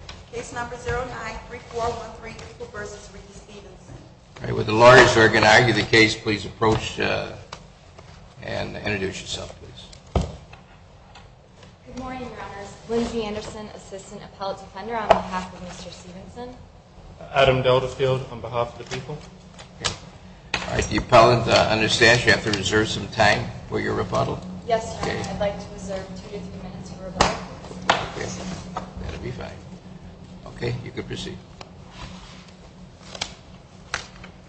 on behalf of Mr. Stevenson. Adam Deltafield on behalf of the people. All right, the appellant understands you have to reserve some time for your rebuttal. Yes, sir. I'd like to reserve two to three minutes for rebuttal. Okay, that'll be fine. Okay, you can proceed.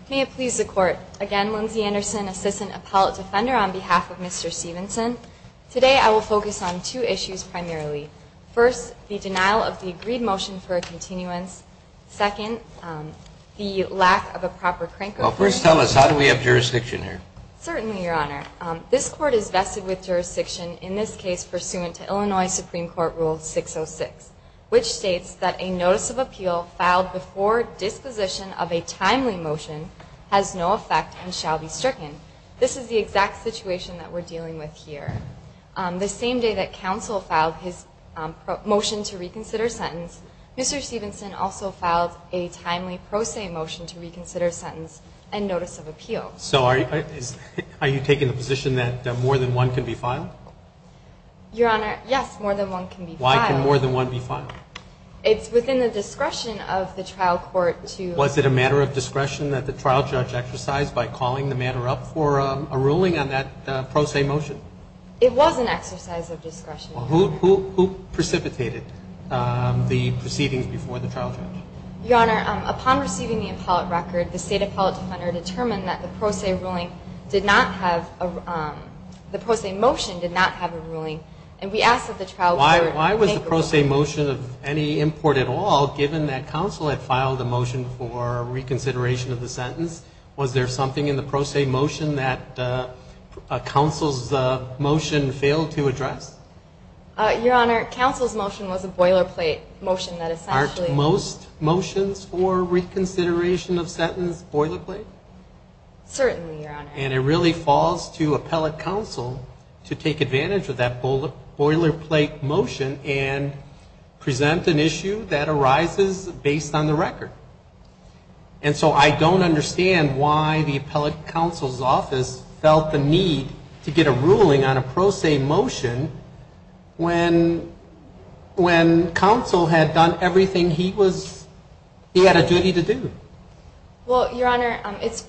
May it please the Court. Again, Lindsay Anderson, Assistant Appellate Defender on behalf of Mr. Stevenson. Today I will focus on two issues primarily. First, the denial of the agreed motion for a continuance. Second, the lack of a proper crank appeal. Well, first tell us, how do we have jurisdiction here? Certainly, Your Honor. This Court is vested with jurisdiction in this case pursuant to Illinois Supreme Court Rule 606, which states that a notice of appeal filed before disposition of a timely motion has no effect and shall be stricken. This is the exact situation that we're dealing with here. The same day that counsel filed his motion to reconsider sentence, Mr. Stevenson also filed a timely pro se motion to reconsider sentence and notice of appeal. So are you taking the position that more than one can be filed? Your Honor, yes, more than one can be filed. Why can more than one be filed? It's within the discretion of the trial court to... Was it a matter of discretion that the trial judge exercise by calling the matter up for a ruling on that pro se motion? It was an exercise of discretion. Well, who precipitated the proceedings before the trial judge? Your Honor, upon receiving the appellate record, the State Appellate Defender determined that the pro se ruling did not have a... The pro se motion did not have a ruling, and we asked that the trial court... Why was the pro se motion of any import at all, given that counsel had filed a motion for reconsideration of the sentence? Was there something in the pro se motion that counsel's motion failed to address? Your Honor, counsel's motion was a boilerplate motion that essentially... Aren't most motions for reconsideration of sentence boilerplate? Certainly, Your Honor. And it really falls to appellate counsel to take advantage of that boilerplate motion and present an issue that arises based on the record. And so I don't understand why the appellate counsel's office felt the need to get a ruling on a pro se motion when counsel had done everything he was... He had a duty to do. Well, Your Honor, it's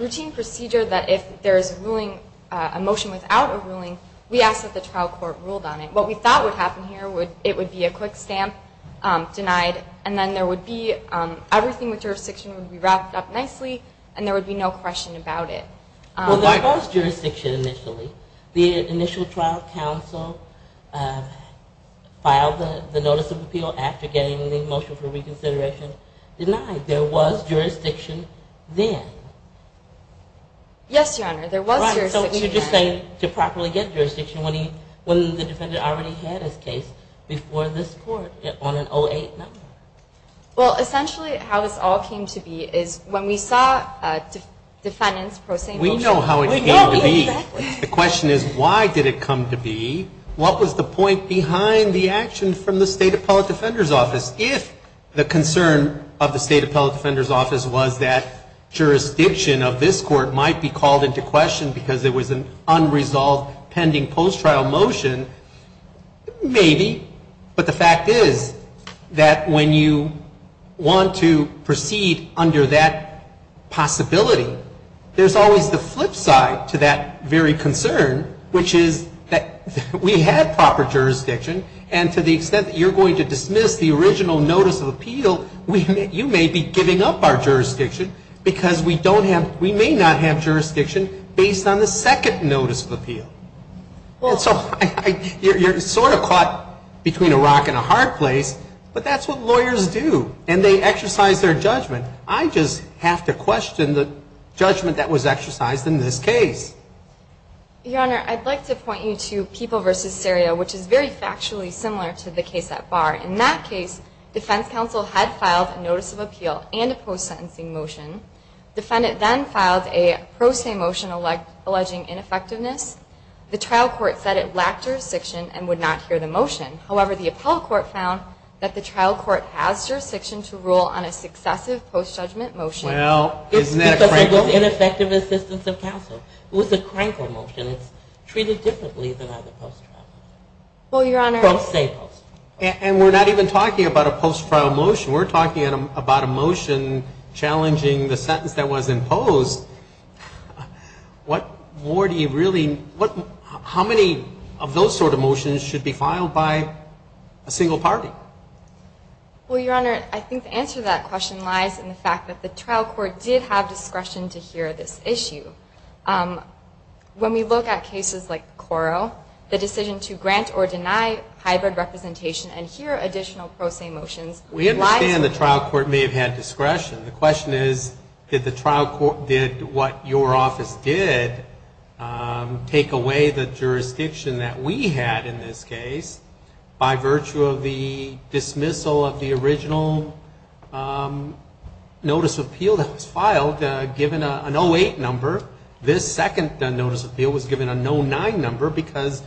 routine procedure that if there's a ruling... A motion without a ruling, we ask that the trial court ruled on it. What we thought would happen here, it would be a quick stamp, denied, and then there would be... Everything with jurisdiction would be wrapped up nicely, and there would be no question about it. Well, there was jurisdiction initially. The initial trial counsel filed the notice of appeal after getting the motion for reconsideration denied. There was jurisdiction then. Yes, Your Honor. There was jurisdiction then. Right. So you're just saying to properly get jurisdiction when the defendant already had his case before this court on an 08 number. Well, essentially how this all came to be is when we saw defendants pro se motion... We know how it came to be. We know exactly. The question is why did it come to be? What was the point behind the action from the State Appellate Defender's Office? If the concern of the State Appellate Defender's Office was that jurisdiction of this court might be called into question because it was an unresolved pending post trial motion, maybe. But the fact is that when you want to proceed under that possibility, there's always the flip side to that very concern, which is that we had proper jurisdiction, and to the extent that you're going to dismiss the original notice of appeal, you may be giving up our jurisdiction because we don't have, we may not have jurisdiction based on the second notice of appeal. Well, so you're sort of caught between a rock and a hard place, but that's what lawyers do, and they exercise their judgment. I don't just have to question the judgment that was exercised in this case. Your Honor, I'd like to point you to People v. Seria, which is very factually similar to the case at bar. In that case, defense counsel had filed a notice of appeal and a post sentencing motion. Defendant then filed a pro se motion alleging ineffectiveness. The trial court said it lacked jurisdiction and would not hear the motion. However, the appellate court found that the trial court has jurisdiction to rule on a successive post judgment motion. Well, isn't that a crankle? It's because of ineffective assistance of counsel. It was a crankle motion. It's treated differently than other post trials. Pro se. And we're not even talking about a post trial motion. We're talking about a motion challenging the sentence that was imposed. What more do you really, how many of those sort of motions should be filed by a single party? Well, Your Honor, I think the answer to that question lies in the fact that the trial court did have discretion to hear this issue. When we look at cases like Coro, the decision to grant or deny hybrid representation and hear additional pro se motions lies with the trial court. We understand the trial court may have had discretion. The question is, did the trial court, did what your office did take away the jurisdiction that we had in this case by virtue of the dismissal of the original notice of appeal that was filed, given an 08 number. This second notice of appeal was given a 09 number because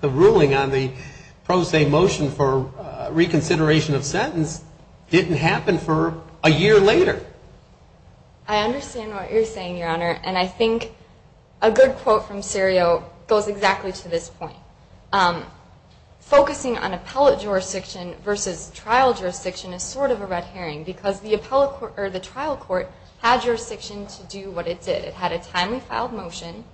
the ruling on the pro se motion for reconsideration of sentence didn't happen for a year later. I understand what you're saying, Your Honor. And I think a good quote from Serio goes exactly to this point. Focusing on appellate jurisdiction versus trial jurisdiction is sort of a red herring because the trial court had jurisdiction to do what it did. It had a timely filed motion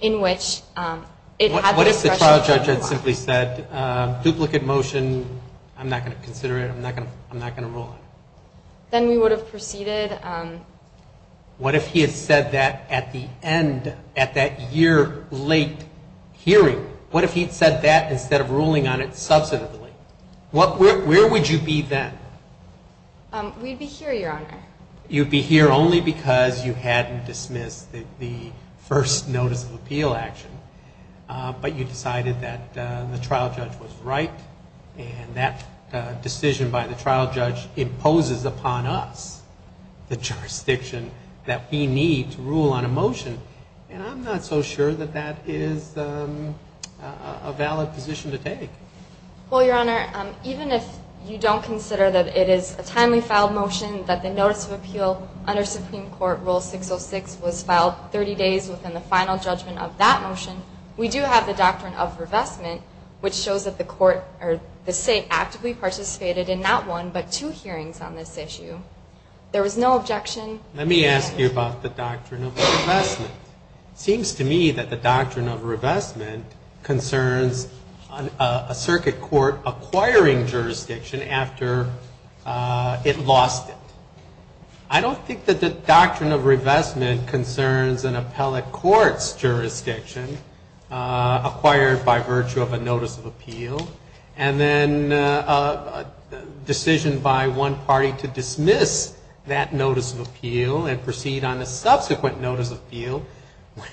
in which it had discretion. What if the trial judge had simply said, duplicate motion, I'm not going to consider it, I'm not going to rule on it? Then we would have proceeded. What if he had said that at the end, at that year late hearing? What if he had said that instead of ruling on it substantively? Where would you be then? We'd be here, Your Honor. You'd be here only because you hadn't dismissed the first notice of appeal action. But you decided that the trial judge was right and that decision by the trial judge imposes upon us the jurisdiction that we need to rule on a motion. And I'm not so sure that that is a valid position to take. Well, Your Honor, even if you don't consider that it is a timely filed motion, that the notice of appeal under Supreme Court jurisdiction is a timely filed motion, we do have the doctrine of revestment, which shows that the court or the State actively participated in not one but two hearings on this issue. There was no objection. Let me ask you about the doctrine of revestment. It seems to me that the doctrine of revestment concerns a circuit court acquiring jurisdiction after it lost it. I don't think that the doctrine of revestment concerns an appellate court's jurisdiction acquired by virtue of a notice of appeal and then a decision by one party to dismiss that notice of appeal and proceed on a subsequent notice of appeal.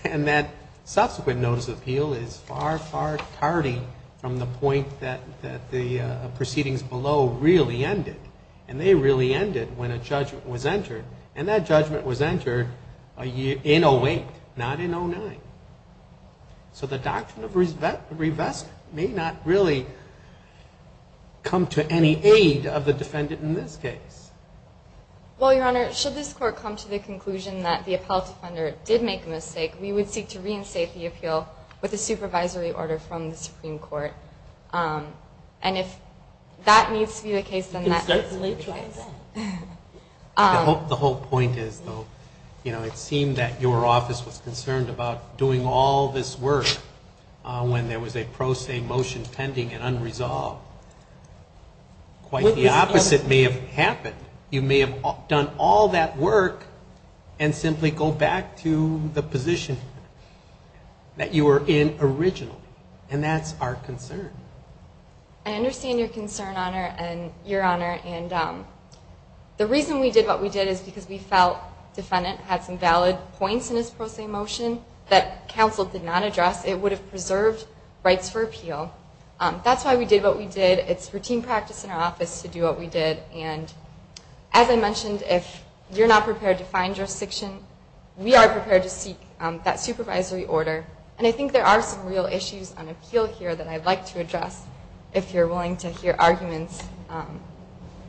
And that subsequent notice of appeal is far, far tardy from the point that the proceedings below really ended. And they really ended when a judgment was entered. And that judgment was entered in 08, not in 09. So the doctrine of revestment may not really come to any aid of the defendant in this case. Well, Your Honor, should this Court come to the conclusion that the appellate offender did make a mistake, we would seek to confirm that. And if that needs to be the case, then that's what it is. I hope the whole point is, though, you know, it seemed that your office was concerned about doing all this work when there was a pro se motion pending and unresolved. Quite the opposite may have happened. You may have done all that work and simply go back to the position that you were in originally. And that's our concern. I understand your concern, Your Honor. And the reason we did what we did is because we felt the defendant had some valid points in his pro se motion that counsel did not address. It would have preserved rights for appeal. That's why we did what we did. It's routine practice in our office to do what we did. And as I mentioned, if you're not prepared to find jurisdiction, we are prepared to seek that supervisory order. And I think there are some real issues on appeal here that I'd like to address, if you're willing to hear arguments.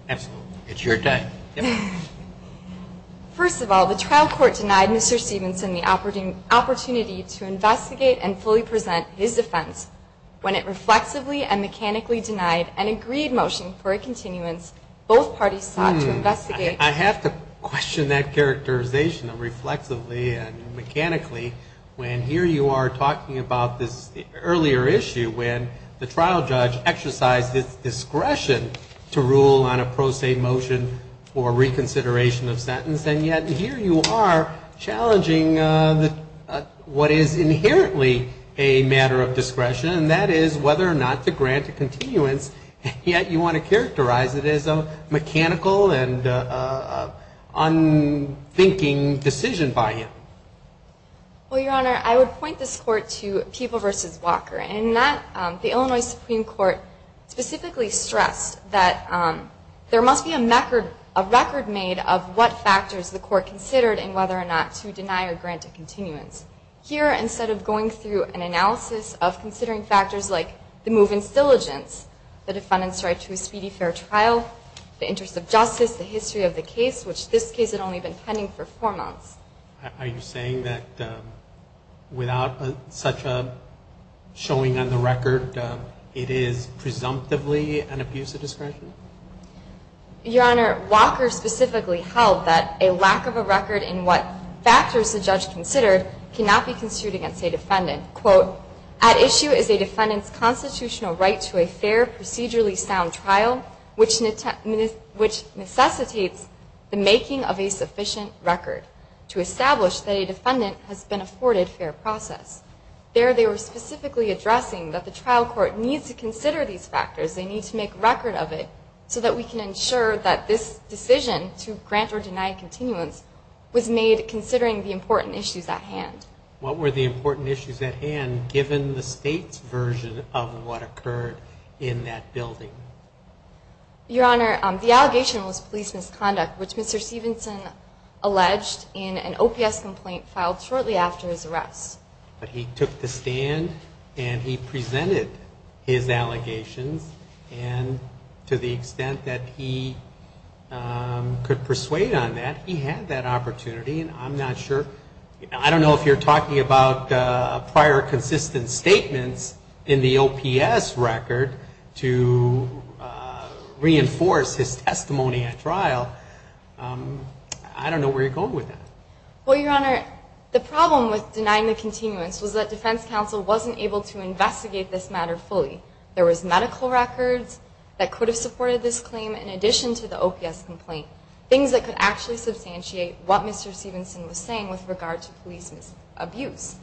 Absolutely. It's your day. First of all, the trial court denied Mr. Stevenson the opportunity to investigate and fully present his defense. When it reflexively and mechanically denied an appeal, I question that characterization of reflexively and mechanically when here you are talking about this earlier issue when the trial judge exercised his discretion to rule on a pro se motion for reconsideration of sentence. And yet here you are challenging what is inherently a matter of discretion, and that is whether or not to grant a continuance. And yet you want to characterize it as a mechanical and unthinking decision by him. Well, Your Honor, I would point this court to People v. Walker. In that, the Illinois Supreme Court specifically stressed that there must be a record made of what factors the court considered in whether or not to deny or grant a continuance. Here, instead of going through an analysis of considering factors like the move in diligence, the trial, the interest of justice, the history of the case, which this case had only been pending for four months. Are you saying that without such a showing on the record, it is presumptively an abuse of discretion? Your Honor, Walker specifically held that a lack of a record in what factors the judge considered cannot be construed against a defendant. Quote, at issue is a defendant's constitutional right to a fair, procedurally sound trial which necessitates the making of a sufficient record to establish that a defendant has been afforded fair process. There they were specifically addressing that the trial court needs to consider these factors. They need to make record of it so that we can ensure that this decision to grant or deny continuance was made considering the facts, given the state's version of what occurred in that building. Your Honor, the allegation was police misconduct, which Mr. Stevenson alleged in an OPS complaint filed shortly after his arrest. But he took the stand and he presented his allegations. And to the extent that he could persuade on that, he had that opportunity. And I'm not sure I don't know if you're talking about prior consistent statements in the OPS record to reinforce his testimony at trial. I don't know where you're going with that. Well, Your Honor, the problem with denying the continuance was that defense counsel wasn't able to investigate this matter fully. There was medical records that could have supported this claim in addition to the OPS complaint, things that could actually substantiate what Mr. Stevenson was saying with regard to police abuse.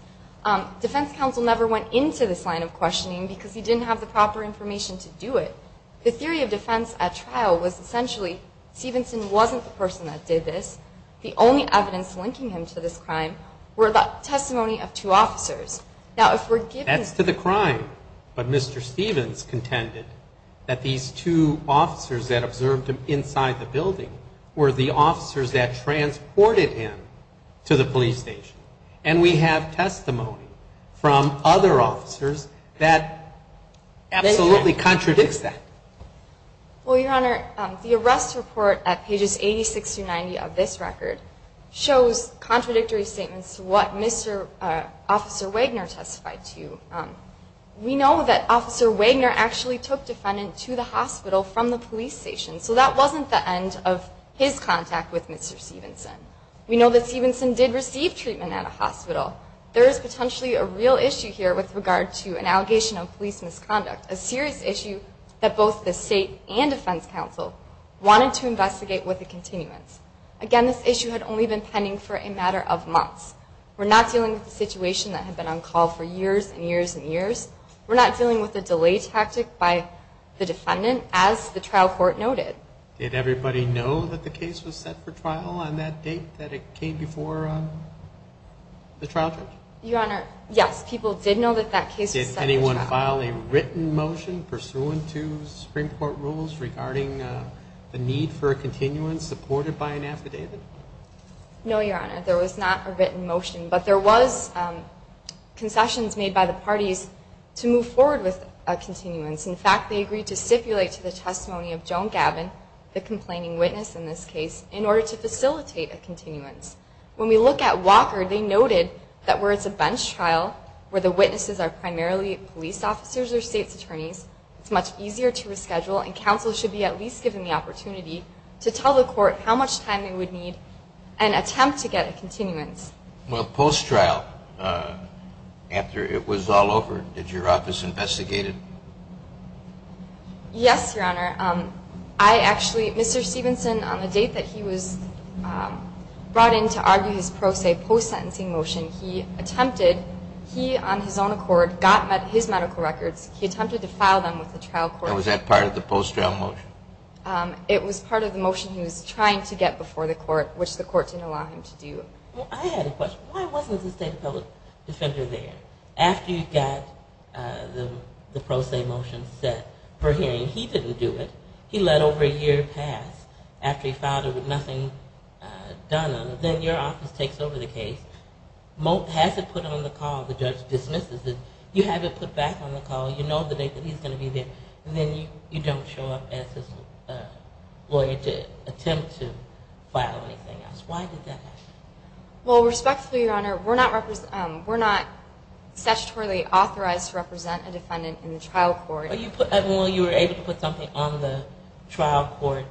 Defense counsel never went into this line of questioning because he didn't have the proper information to do it. The theory of defense at trial was essentially Stevenson wasn't the person that did this. The only evidence linking him to this crime were the testimony of two officers. Now, if we're given... That's to the crime. But Mr. Stevens contended that these two officers that observed him inside the building were the officers that transported him to the police station. And we have testimony from other officers that absolutely contradicts that. Well, Your Honor, the arrest report at pages 86-90 of this record shows contradictory statements to what Mr. Officer Wagner testified to. We know that Officer Wagner actually took defendant to the hospital from the police station, so that wasn't the end of his contact with Mr. Stevenson. We know that Stevenson did receive treatment at a hospital. There is potentially a real issue here with regard to an allegation of police misconduct, a serious issue that both the state and defense counsel wanted to investigate with a continuance. Again, this issue had only been pending for a matter of months. We're not dealing with a situation that had been on call for years and years and years. We're not dealing with a delay tactic by the defendant, as the trial court noted. Did everybody know that the case was set for trial on that date that it came before the trial judge? Your Honor, yes. People did know that that case was set for trial. Did anyone file a written motion pursuant to Supreme Court rules regarding the need for a continuance supported by an affidavit? No, Your Honor. There was not a written motion, but there was concessions made by the parties to move forward with a continuance. In fact, they agreed to stipulate to the testimony of Joan Gavin, the complaining witness in this case, in order to facilitate a continuance. When we look at Walker, they noted that where it's a bench trial, where the witnesses are primarily police officers or state's attorneys, it's much easier to reschedule, and counsel should be at least given the opportunity to tell the court how much time they would need and attempt to get a continuance. Well, post-trial, after it was all over, did your office investigate it? Yes, Your Honor. Mr. Stevenson, on the date that he was brought in to argue his own accord, got his medical records, he attempted to file them with the trial court. And was that part of the post-trial motion? It was part of the motion he was trying to get before the court, which the court didn't allow him to do. Well, I had a question. Why wasn't the state appellate defender there? After you got the pro se motion set for hearing, he didn't do it. He let over a year pass after he filed it with nothing done on it. But then your office takes over the case, has it put on the call, the judge dismisses it, you have it put back on the call, you know the date that he's going to be there, and then you don't show up as his lawyer to attempt to file anything else. Why did that happen? Well, respectfully, Your Honor, we're not statutorily authorized to represent a defendant in the trial court. Well, you were able to put something on the trial court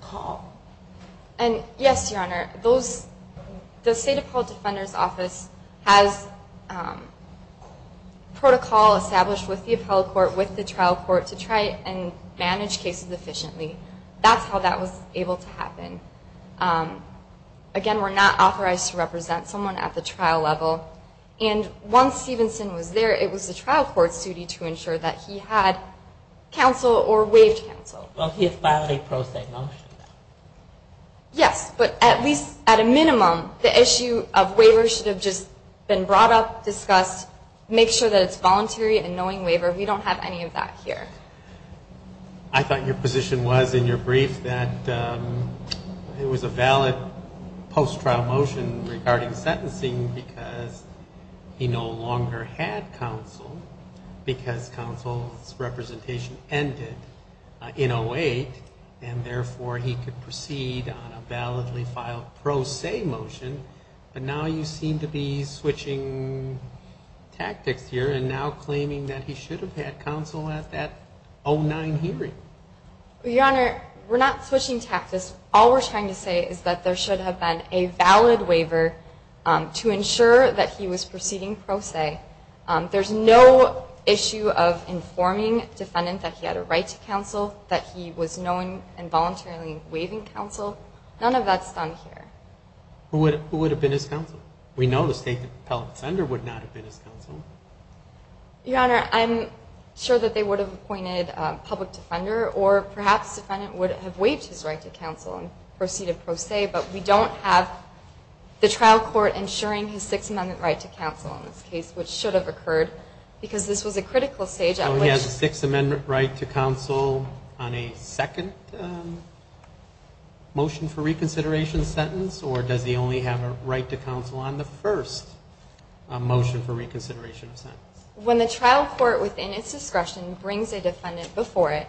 call. Yes, Your Honor. The State Appellate Defender's Office has protocol established with the appellate court, with the trial court, to try and manage cases efficiently. That's how that was able to happen. Again, we're not authorized to represent someone at the trial level. And once Stevenson was there, it was the trial court's duty to ensure that he had counsel or waived counsel. Well, he has filed a pro se motion. Yes, but at least at a minimum, the issue of waiver should have just been brought up, discussed, make sure that it's voluntary and knowing waiver. We don't have any of that here. I thought your position was in your brief that it was a valid post-trial motion regarding sentencing because he no longer had counsel because counsel's representation ended in 08 and therefore he could proceed on a validly filed pro se motion. But now you seem to be switching tactics here and now claiming that he should have had counsel at that 09 hearing. Your Honor, we're not switching tactics. All we're trying to say is that there should have been a valid waiver to ensure that he was proceeding pro se. There's no issue of informing defendant that he had a right to counsel, that he was knowing and voluntarily waiving counsel. None of that's done here. Who would have been his counsel? We know the State Appellate Defender would not have been his counsel. Your Honor, I'm sure that they would have appointed a public defender or perhaps defendant would have waived his right to counsel and proceeded pro se, but we don't have the trial court ensuring his Sixth Amendment right to counsel in this case, which should have occurred, because this was a critical stage at which... So he has a Sixth Amendment right to counsel on a second motion for reconsideration sentence or does he only have a right to counsel on the first motion for reconsideration of sentence? When the trial court within its discretion brings a defendant before it,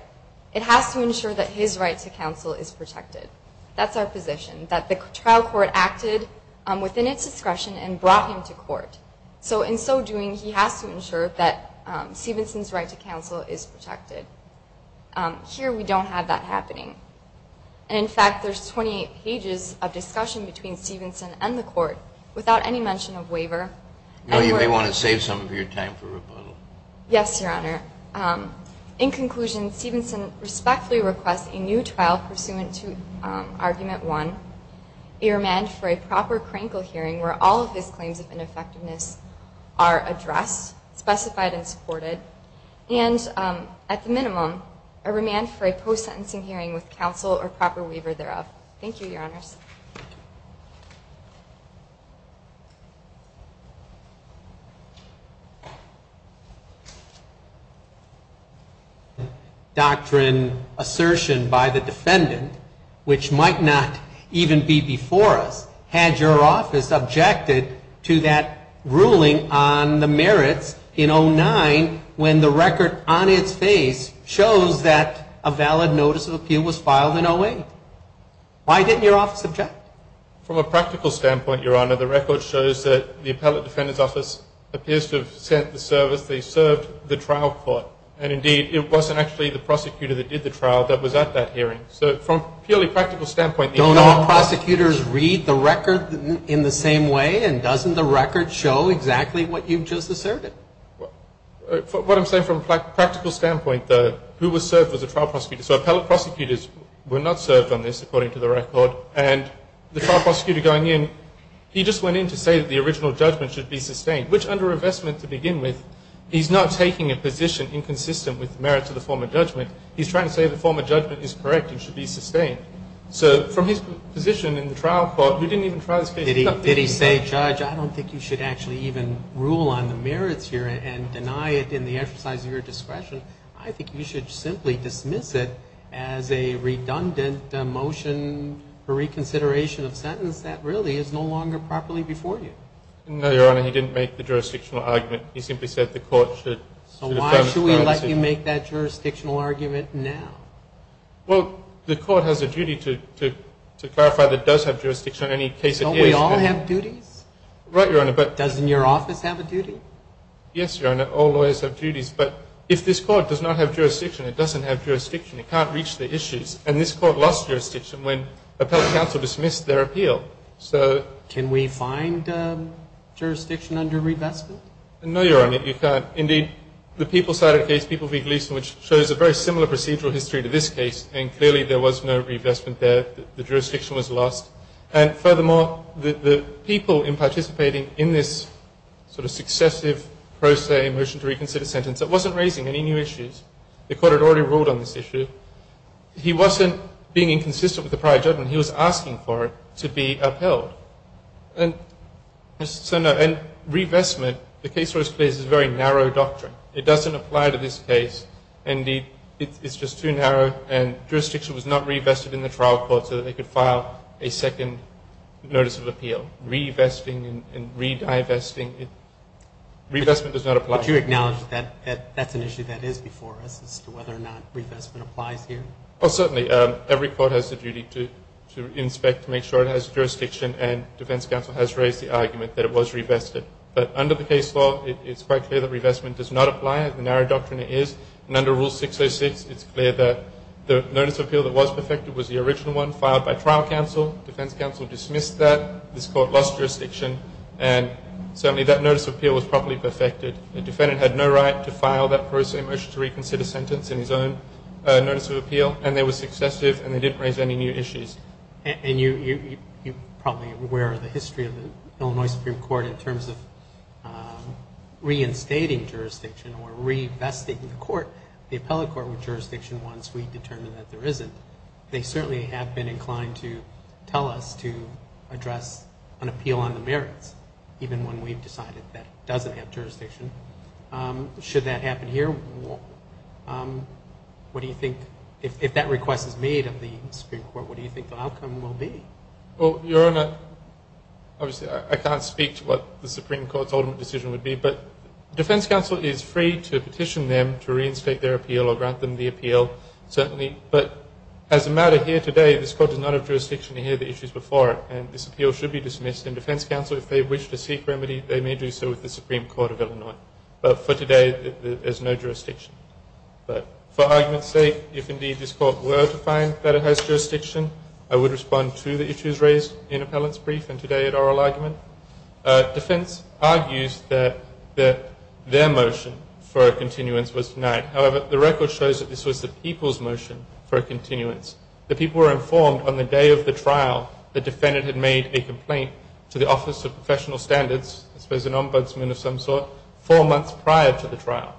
it has to ensure that his right to counsel is protected. That's our position, that the trial court acted within its discretion and brought him to court. So in so doing, he has to ensure that Stevenson's right to counsel is protected. Here we don't have that happening. In fact, there's 28 pages of discussion between Stevenson and the court without any mention of waiver. You may want to save some of your time for rebuttal. Yes, Your Honor. In conclusion, Stevenson respectfully requests a new trial pursuant to Argument 1, a remand for a proper Krankel hearing where all of his claims of ineffectiveness are addressed, specified and supported, and at the minimum, a remand for a post-sentencing hearing with counsel or proper waiver thereof. Thank you, Your Honors. Doctrine assertion by the defendant, which might not even be before us, had your office objected to that ruling on the merits in 09 when the record on its face shows that a valid notice of appeal was filed in 08? Why didn't your office object? From a practical standpoint, Your Honor, the record shows that the appellate defendant's office appears to have sent the service they served the trial court. And indeed, it wasn't actually the prosecutor that did the trial that was at that hearing. So from a purely practical standpoint... Don't all prosecutors read the record in the same way? And doesn't the record show exactly what you've just asserted? What I'm saying from a practical standpoint, though, who was served was a trial prosecutor. So appellate prosecutors were not served on this, according to the record. And the trial prosecutor going in, he just went in to say that the original judgment should be sustained, which under revestment to begin with, he's not taking a position inconsistent with the merits of the former judgment. He's trying to say the former judgment is correct and should be sustained. So from his position in the trial court, who didn't even try this case... Did he say, Judge, I don't think you should actually even rule on the merits here and deny it in the exercise of your discretion. I think you should simply dismiss it as a redundant motion for reconsideration of sentence that really is no longer properly before you. No, Your Honor. He didn't make the jurisdictional argument. He simply said the court should... So why should we let you make that jurisdictional argument now? Well, the court has a duty to clarify that it does have jurisdiction in any case it is. Don't we all have duties? Right, Your Honor, but... Doesn't your office have a duty? Yes, Your Honor. All lawyers have duties. But if this court does not have jurisdiction, it doesn't have jurisdiction, it can't reach the issues. And this court lost jurisdiction when we find jurisdiction under revestment? No, Your Honor, you can't. Indeed, the People-Cited Case, People v. Gleeson, which shows a very similar procedural history to this case, and clearly there was no revestment there. The jurisdiction was lost. And furthermore, the people in participating in this sort of successive pro se motion to reconsider sentence, it wasn't raising any new issues. The court had already ruled on this issue. He wasn't being inconsistent with the prior judgment. He was asking for it to be upheld. And so no, and revestment, the case was placed as a very narrow doctrine. It doesn't apply to this case. Indeed, it's just too narrow, and jurisdiction was not revested in the trial court so that they could file a second notice of appeal. Revesting and re-divesting, revestment does not apply. But you acknowledge that that's an issue that is before us as to whether or not revestment applies here? Well, certainly. Every court has a duty to inspect to make sure it has jurisdiction, and defense counsel has raised the argument that it was revested. But under the case law, it's quite clear that revestment does not apply. The narrow doctrine it is. And under Rule 606, it's clear that the notice of appeal that was perfected was the original one filed by trial counsel. Defense counsel dismissed that. This court lost jurisdiction. And certainly that notice of appeal was properly perfected. The defendant had no right to file that pro se motion to reconsider sentence in his own notice of appeal, and they were successive, and they didn't raise any new issues. And you probably are aware of the history of the Illinois Supreme Court in terms of reinstating jurisdiction or revesting the court, the appellate court, with jurisdiction once we determine that there isn't. They certainly have been inclined to tell us to address an appeal on the merits, even when we've decided that it doesn't have jurisdiction. Should that happen here, what do you think, if that request is made of the Supreme Court, what do you think the outcome will be? Well, Your Honor, obviously I can't speak to what the Supreme Court's ultimate decision would be, but defense counsel is a matter here today. This court does not have jurisdiction to hear the issues before it, and this appeal should be dismissed. And defense counsel, if they wish to seek remedy, they may do so with the Supreme Court of Illinois. But for today, there's no jurisdiction. But for argument's sake, if indeed this court were to find that it has jurisdiction, I would respond to the issues raised in appellant's brief and today at oral argument. Defense argues that their motion for a continuance was denied. However, the record shows that this was the people's motion for a continuance. The people were informed on the day of the trial the defendant had made a complaint to the Office of Professional Standards, I suppose an ombudsman of some sort, four months prior to the trial.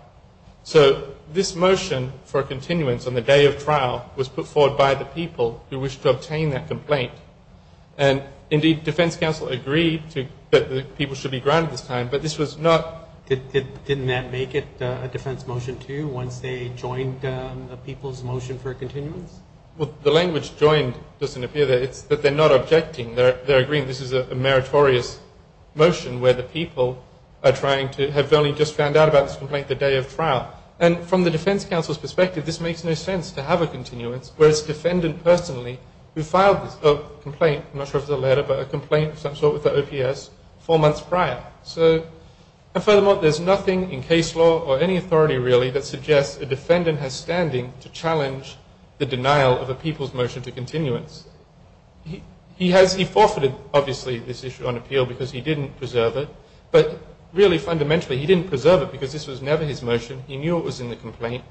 So this motion for a continuance on the day of trial was put forward by the people who wished to obtain that complaint. And indeed, defense counsel agreed that the people should be granted this time, but this was not... Didn't that make it a defense motion, too, once they joined the people's motion for a continuance? Well, the language joined doesn't appear there. It's that they're not objecting. They're agreeing this is a meritorious motion where the people are trying to have only just found out about this complaint the day of trial. And from the defense counsel's perspective, this makes no sense to have a continuance where it's the defendant personally who filed this complaint, I'm not sure if it's a letter, but a complaint of some sort with the OPS four months prior. And furthermore, there's nothing in case law or any authority, really, that suggests a defendant has standing to challenge the denial of a people's motion to continuance. He forfeited, obviously, this issue on appeal because he didn't preserve it. But really, fundamentally, he didn't preserve it because this was never his motion. He knew it was in the complaint.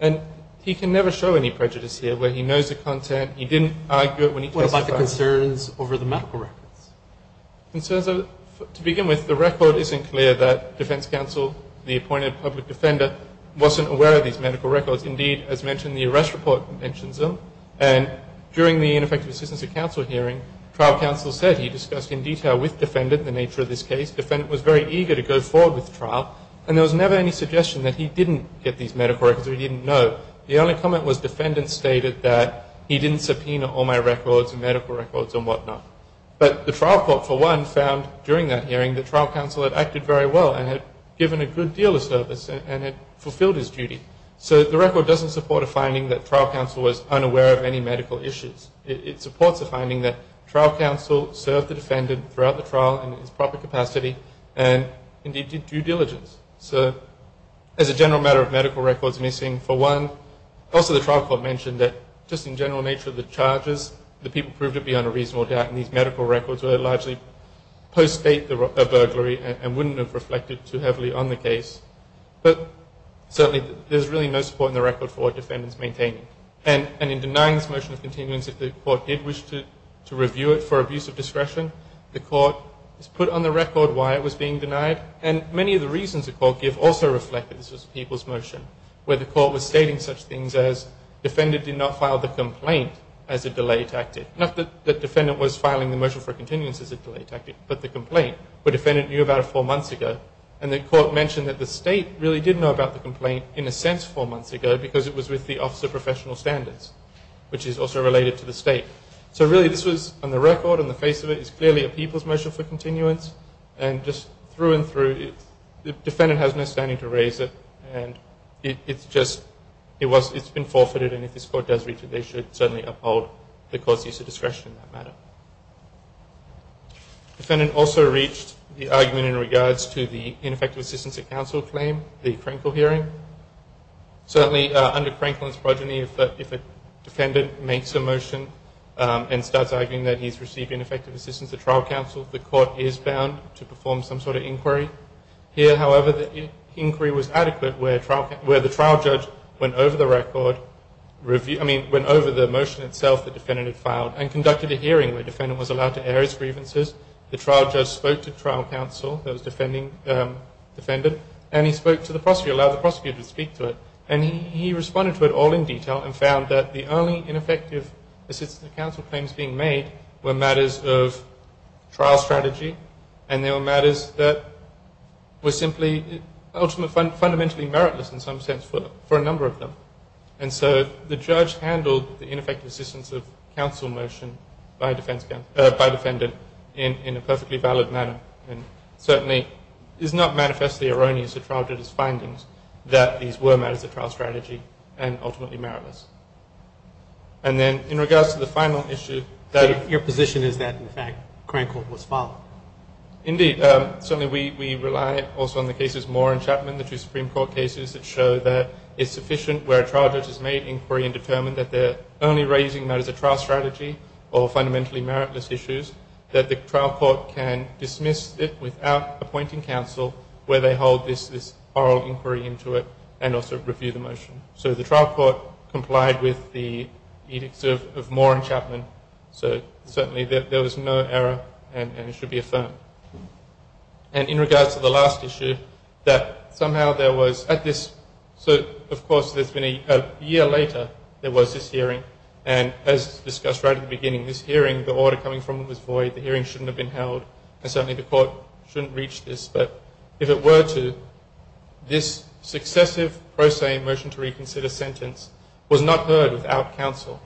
And he can never show any prejudice here where he knows the content. He didn't argue it when he testified. What about the concerns over the medical records? To begin with, the record isn't clear that defense counsel, the appointed public defender, wasn't aware of these medical records. Indeed, as mentioned, the arrest report mentions them. And during the ineffective assistance of counsel hearing, trial counsel said he discussed in detail with defendant the nature of this case. Defendant was very eager to go forward with trial. And there was never any suggestion that he didn't get these medical records or he didn't know. The only comment was defendant stated that he didn't subpoena all my records and medical records and whatnot. But the trial court, for one, found during that hearing that trial counsel had acted very well and had given a good deal of service and had fulfilled his duty. So the record doesn't support a finding that trial counsel was unaware of any medical issues. It supports a finding that trial counsel served the defendant throughout the trial in his proper capacity and, indeed, did due diligence. So as a general matter of medical records missing, for one, also the trial court mentioned that just in general nature of the charges, the people proved to be on a reasonable doubt. And these medical records were largely post-state burglary and wouldn't have reflected too heavily on the case. But certainly there's really no support in the record for what defendant's maintaining. And in denying this motion of continuance, if the court did wish to review it for abuse of discretion, the court has put on the record why it was being denied. And many of the reasons the court give also reflect that this was a people's motion, where the court was stating such things as defendant did not file the complaint as a delay tactic. Not that defendant was filing the motion for continuance as a delay tactic, but the complaint, where defendant knew about it four months ago. And the court mentioned that the state really did know about the complaint in a sense four months ago, because it was with the Office of Professional Standards, which is also related to the state. So really this was, on the record, on the face of it, is clearly a people's motion for continuance. And just through and through, the defendant has no standing to raise it. And it's just, it's been forfeited. And if this court does reach it, they should certainly uphold the court's use of discretion in that matter. Defendant also reached the argument in regards to the ineffective assistance of counsel claim, the Krenkel hearing. Certainly under Krenkel and Sprogeny, if a defendant makes a motion and starts arguing that he's received ineffective assistance at trial counsel, the court is bound to perform some sort of inquiry. Here, however, the inquiry was adequate where the trial judge went over the record, I mean, went over the motion itself the defendant had filed, and conducted a hearing where the defendant was allowed to air his grievances. The trial judge spoke to trial counsel, the defendant, and he spoke to the prosecutor, allowed the prosecutor to speak to it. And he responded to it all in detail and found that the only ineffective assistance of counsel claims being made were matters of trial strategy, and they were matters that were simply ultimately, fundamentally meritless in some sense for a number of them. And so the judge handled the ineffective assistance of counsel motion by defendant in a perfectly valid manner, and certainly is not manifestly erroneous to trial judge's findings that these were matters of trial strategy and ultimately meritless. And then in regards to the final issue that... Your position is that, in fact, Crancourt was followed. Indeed. Certainly we rely also on the cases Moore and Chapman, the two Supreme Court cases that show that it's sufficient where a trial judge has made inquiry and determined that they're only raising matters of trial strategy or fundamentally meritless issues, that the trial court can dismiss it without appointing counsel where they hold this oral inquiry into it and also review the motion. So the trial court complied with the edicts of Moore and Chapman, so certainly there was no error and it should be affirmed. And in regards to the last issue, that somehow there was at this... So, of course, there's been a year later there was this hearing, and as discussed right at the beginning, this hearing, the order coming from it was void, the hearing shouldn't have been held, and certainly the court shouldn't reach this. But if it were to, this successive pro se motion to reconsider sentence was not heard without counsel.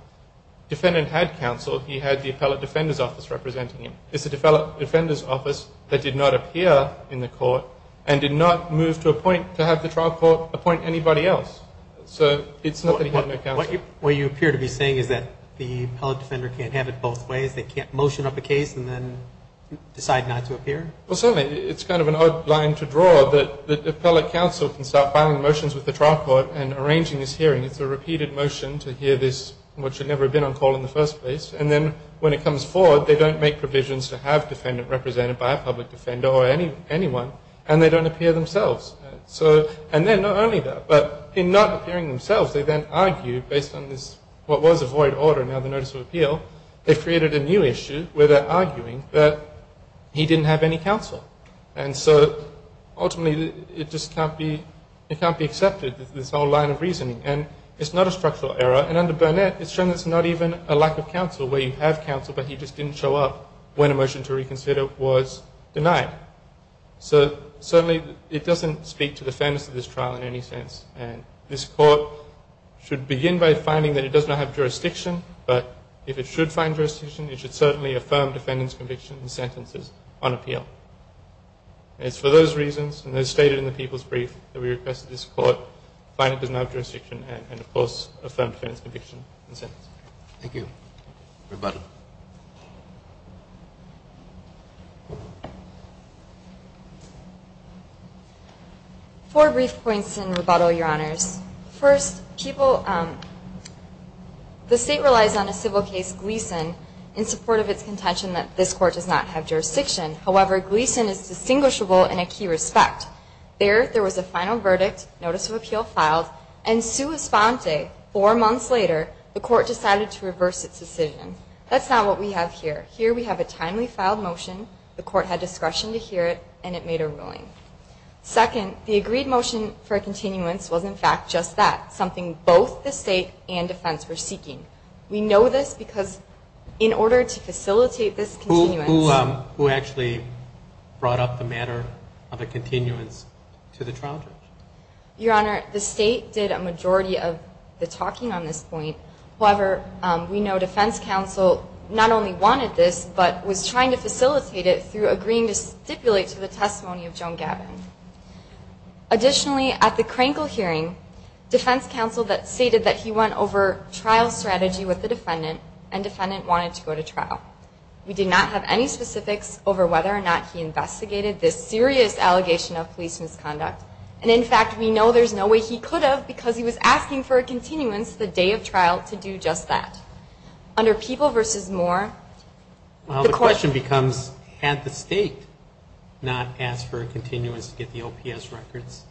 Defendant had counsel. He had the appellate defender's office representing him. It's the defendant's office that did not appear in the court and did not move to appoint, to have the trial court appoint anybody else. So it's not that he had no counsel. What you appear to be saying is that the Well, certainly it's kind of an odd line to draw, that the appellate counsel can start filing motions with the trial court and arranging this hearing. It's a repeated motion to hear this, which had never been on call in the first place. And then when it comes forward, they don't make provisions to have defendant represented by a public defender or anyone, and they don't appear themselves. And then not only that, but in not appearing themselves, they then argue based on this, what was a void order, now the notice of appeal, they created a new issue where they're arguing that he didn't have any counsel. And so ultimately it just can't be accepted, this whole line of reasoning. And it's not a structural error. And under Burnett, it's shown that it's not even a lack of counsel, where you have counsel, but he just didn't show up when a motion to reconsider was denied. So certainly it doesn't speak to the fairness of this trial in any sense. And this court should begin by finding that it does not have jurisdiction. But if it should find jurisdiction, it should certainly affirm defendant's conviction and sentences on appeal. And it's for those reasons, and as stated in the People's Brief, that we request that this court find it does not have jurisdiction and, of course, affirm defendant's conviction and sentences. Thank you. Roboto. Four brief points in Roboto, Your Honors. First, the state relies on a civil case, Gleason, in support of its contention that this court does not have jurisdiction. However, Gleason is distinguishable in a key respect. There, there was a final verdict, notice of appeal filed, and sua sponte, four months later, the court decided to reverse its decision. That's not what we have here. Here we have a timely filed motion, the court had discretion to hear it, and it made a ruling. Second, the agreed motion for a continuance was, in fact, just that, something both the state and defense were seeking. We know this because in order to facilitate this continuance. Who actually brought up the matter of a continuance to the trial? Your Honor, the state did a majority of the talking on this point. However, we know defense counsel not only wanted this, but was trying to facilitate it through agreeing to stipulate to the testimony of Joan Gavin. Additionally, at the Krankel hearing, defense counsel stated that he went over trial strategy with the defendant, and defendant wanted to go to trial. We did not have any specifics over whether or not he investigated this serious allegation of police misconduct, and in fact, we know there's no way he could have, because he was asking for a continuance the day of trial to do just that. Under people versus more, the court. Well, the question becomes, had the state not asked for a continuance to get the OPS records?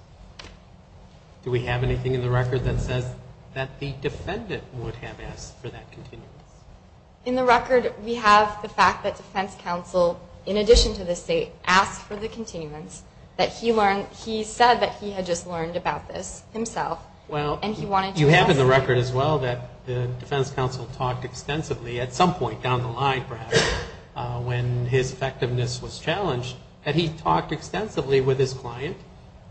Do we have anything in the record that says that the defendant would have asked for that continuance? In the record, we have the fact that defense counsel, in addition to the state, asked for the continuance, that he said that he had just learned about this himself, and he wanted to investigate it. Well, you have in the record as well that the defense counsel talked extensively at some point down the line, perhaps, when his effectiveness was challenged, that he talked extensively with his client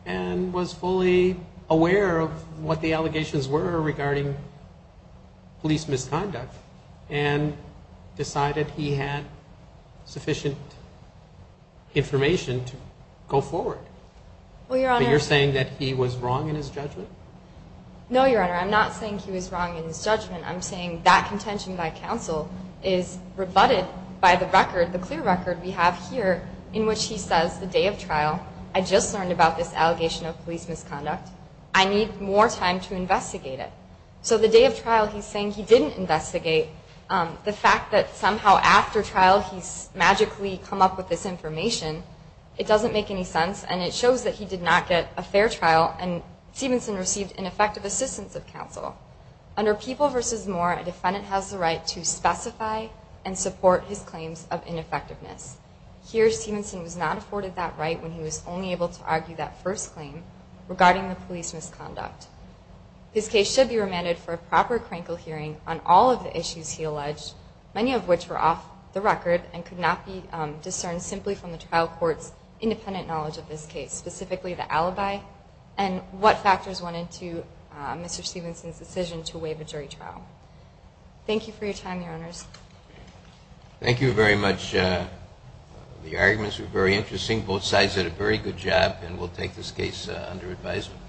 and was fully aware of what the allegations were regarding police misconduct, and decided he had sufficient information to go forward. But you're saying that he was wrong in his judgment? No, Your Honor, I'm not saying he was wrong in his judgment. I'm saying that contention by counsel is rebutted by the record, the clear record we have here, in which he says the day of trial, I just learned about this allegation of police misconduct. I need more time to investigate it. So the day of trial, he's saying he didn't investigate. The fact that somehow after trial he's magically come up with this information, it doesn't make any sense, and it shows that he did not get a fair trial, and Stevenson received ineffective assistance of counsel. Under People v. Moore, a defendant has the right to specify and support his claims of ineffectiveness. Here, Stevenson was not afforded that right when he was only able to argue that first claim regarding the police misconduct. This case should be remanded for a proper Krankel hearing on all of the issues he alleged, many of which were off the record and could not be discerned simply from the trial court's independent knowledge of this case, specifically the alibi and what factors went into Mr. Stevenson's decision to waive a jury trial. Thank you for your time, Your Honors. Thank you very much. The arguments were very interesting. Both sides did a very good job, and we'll take this case under advisement.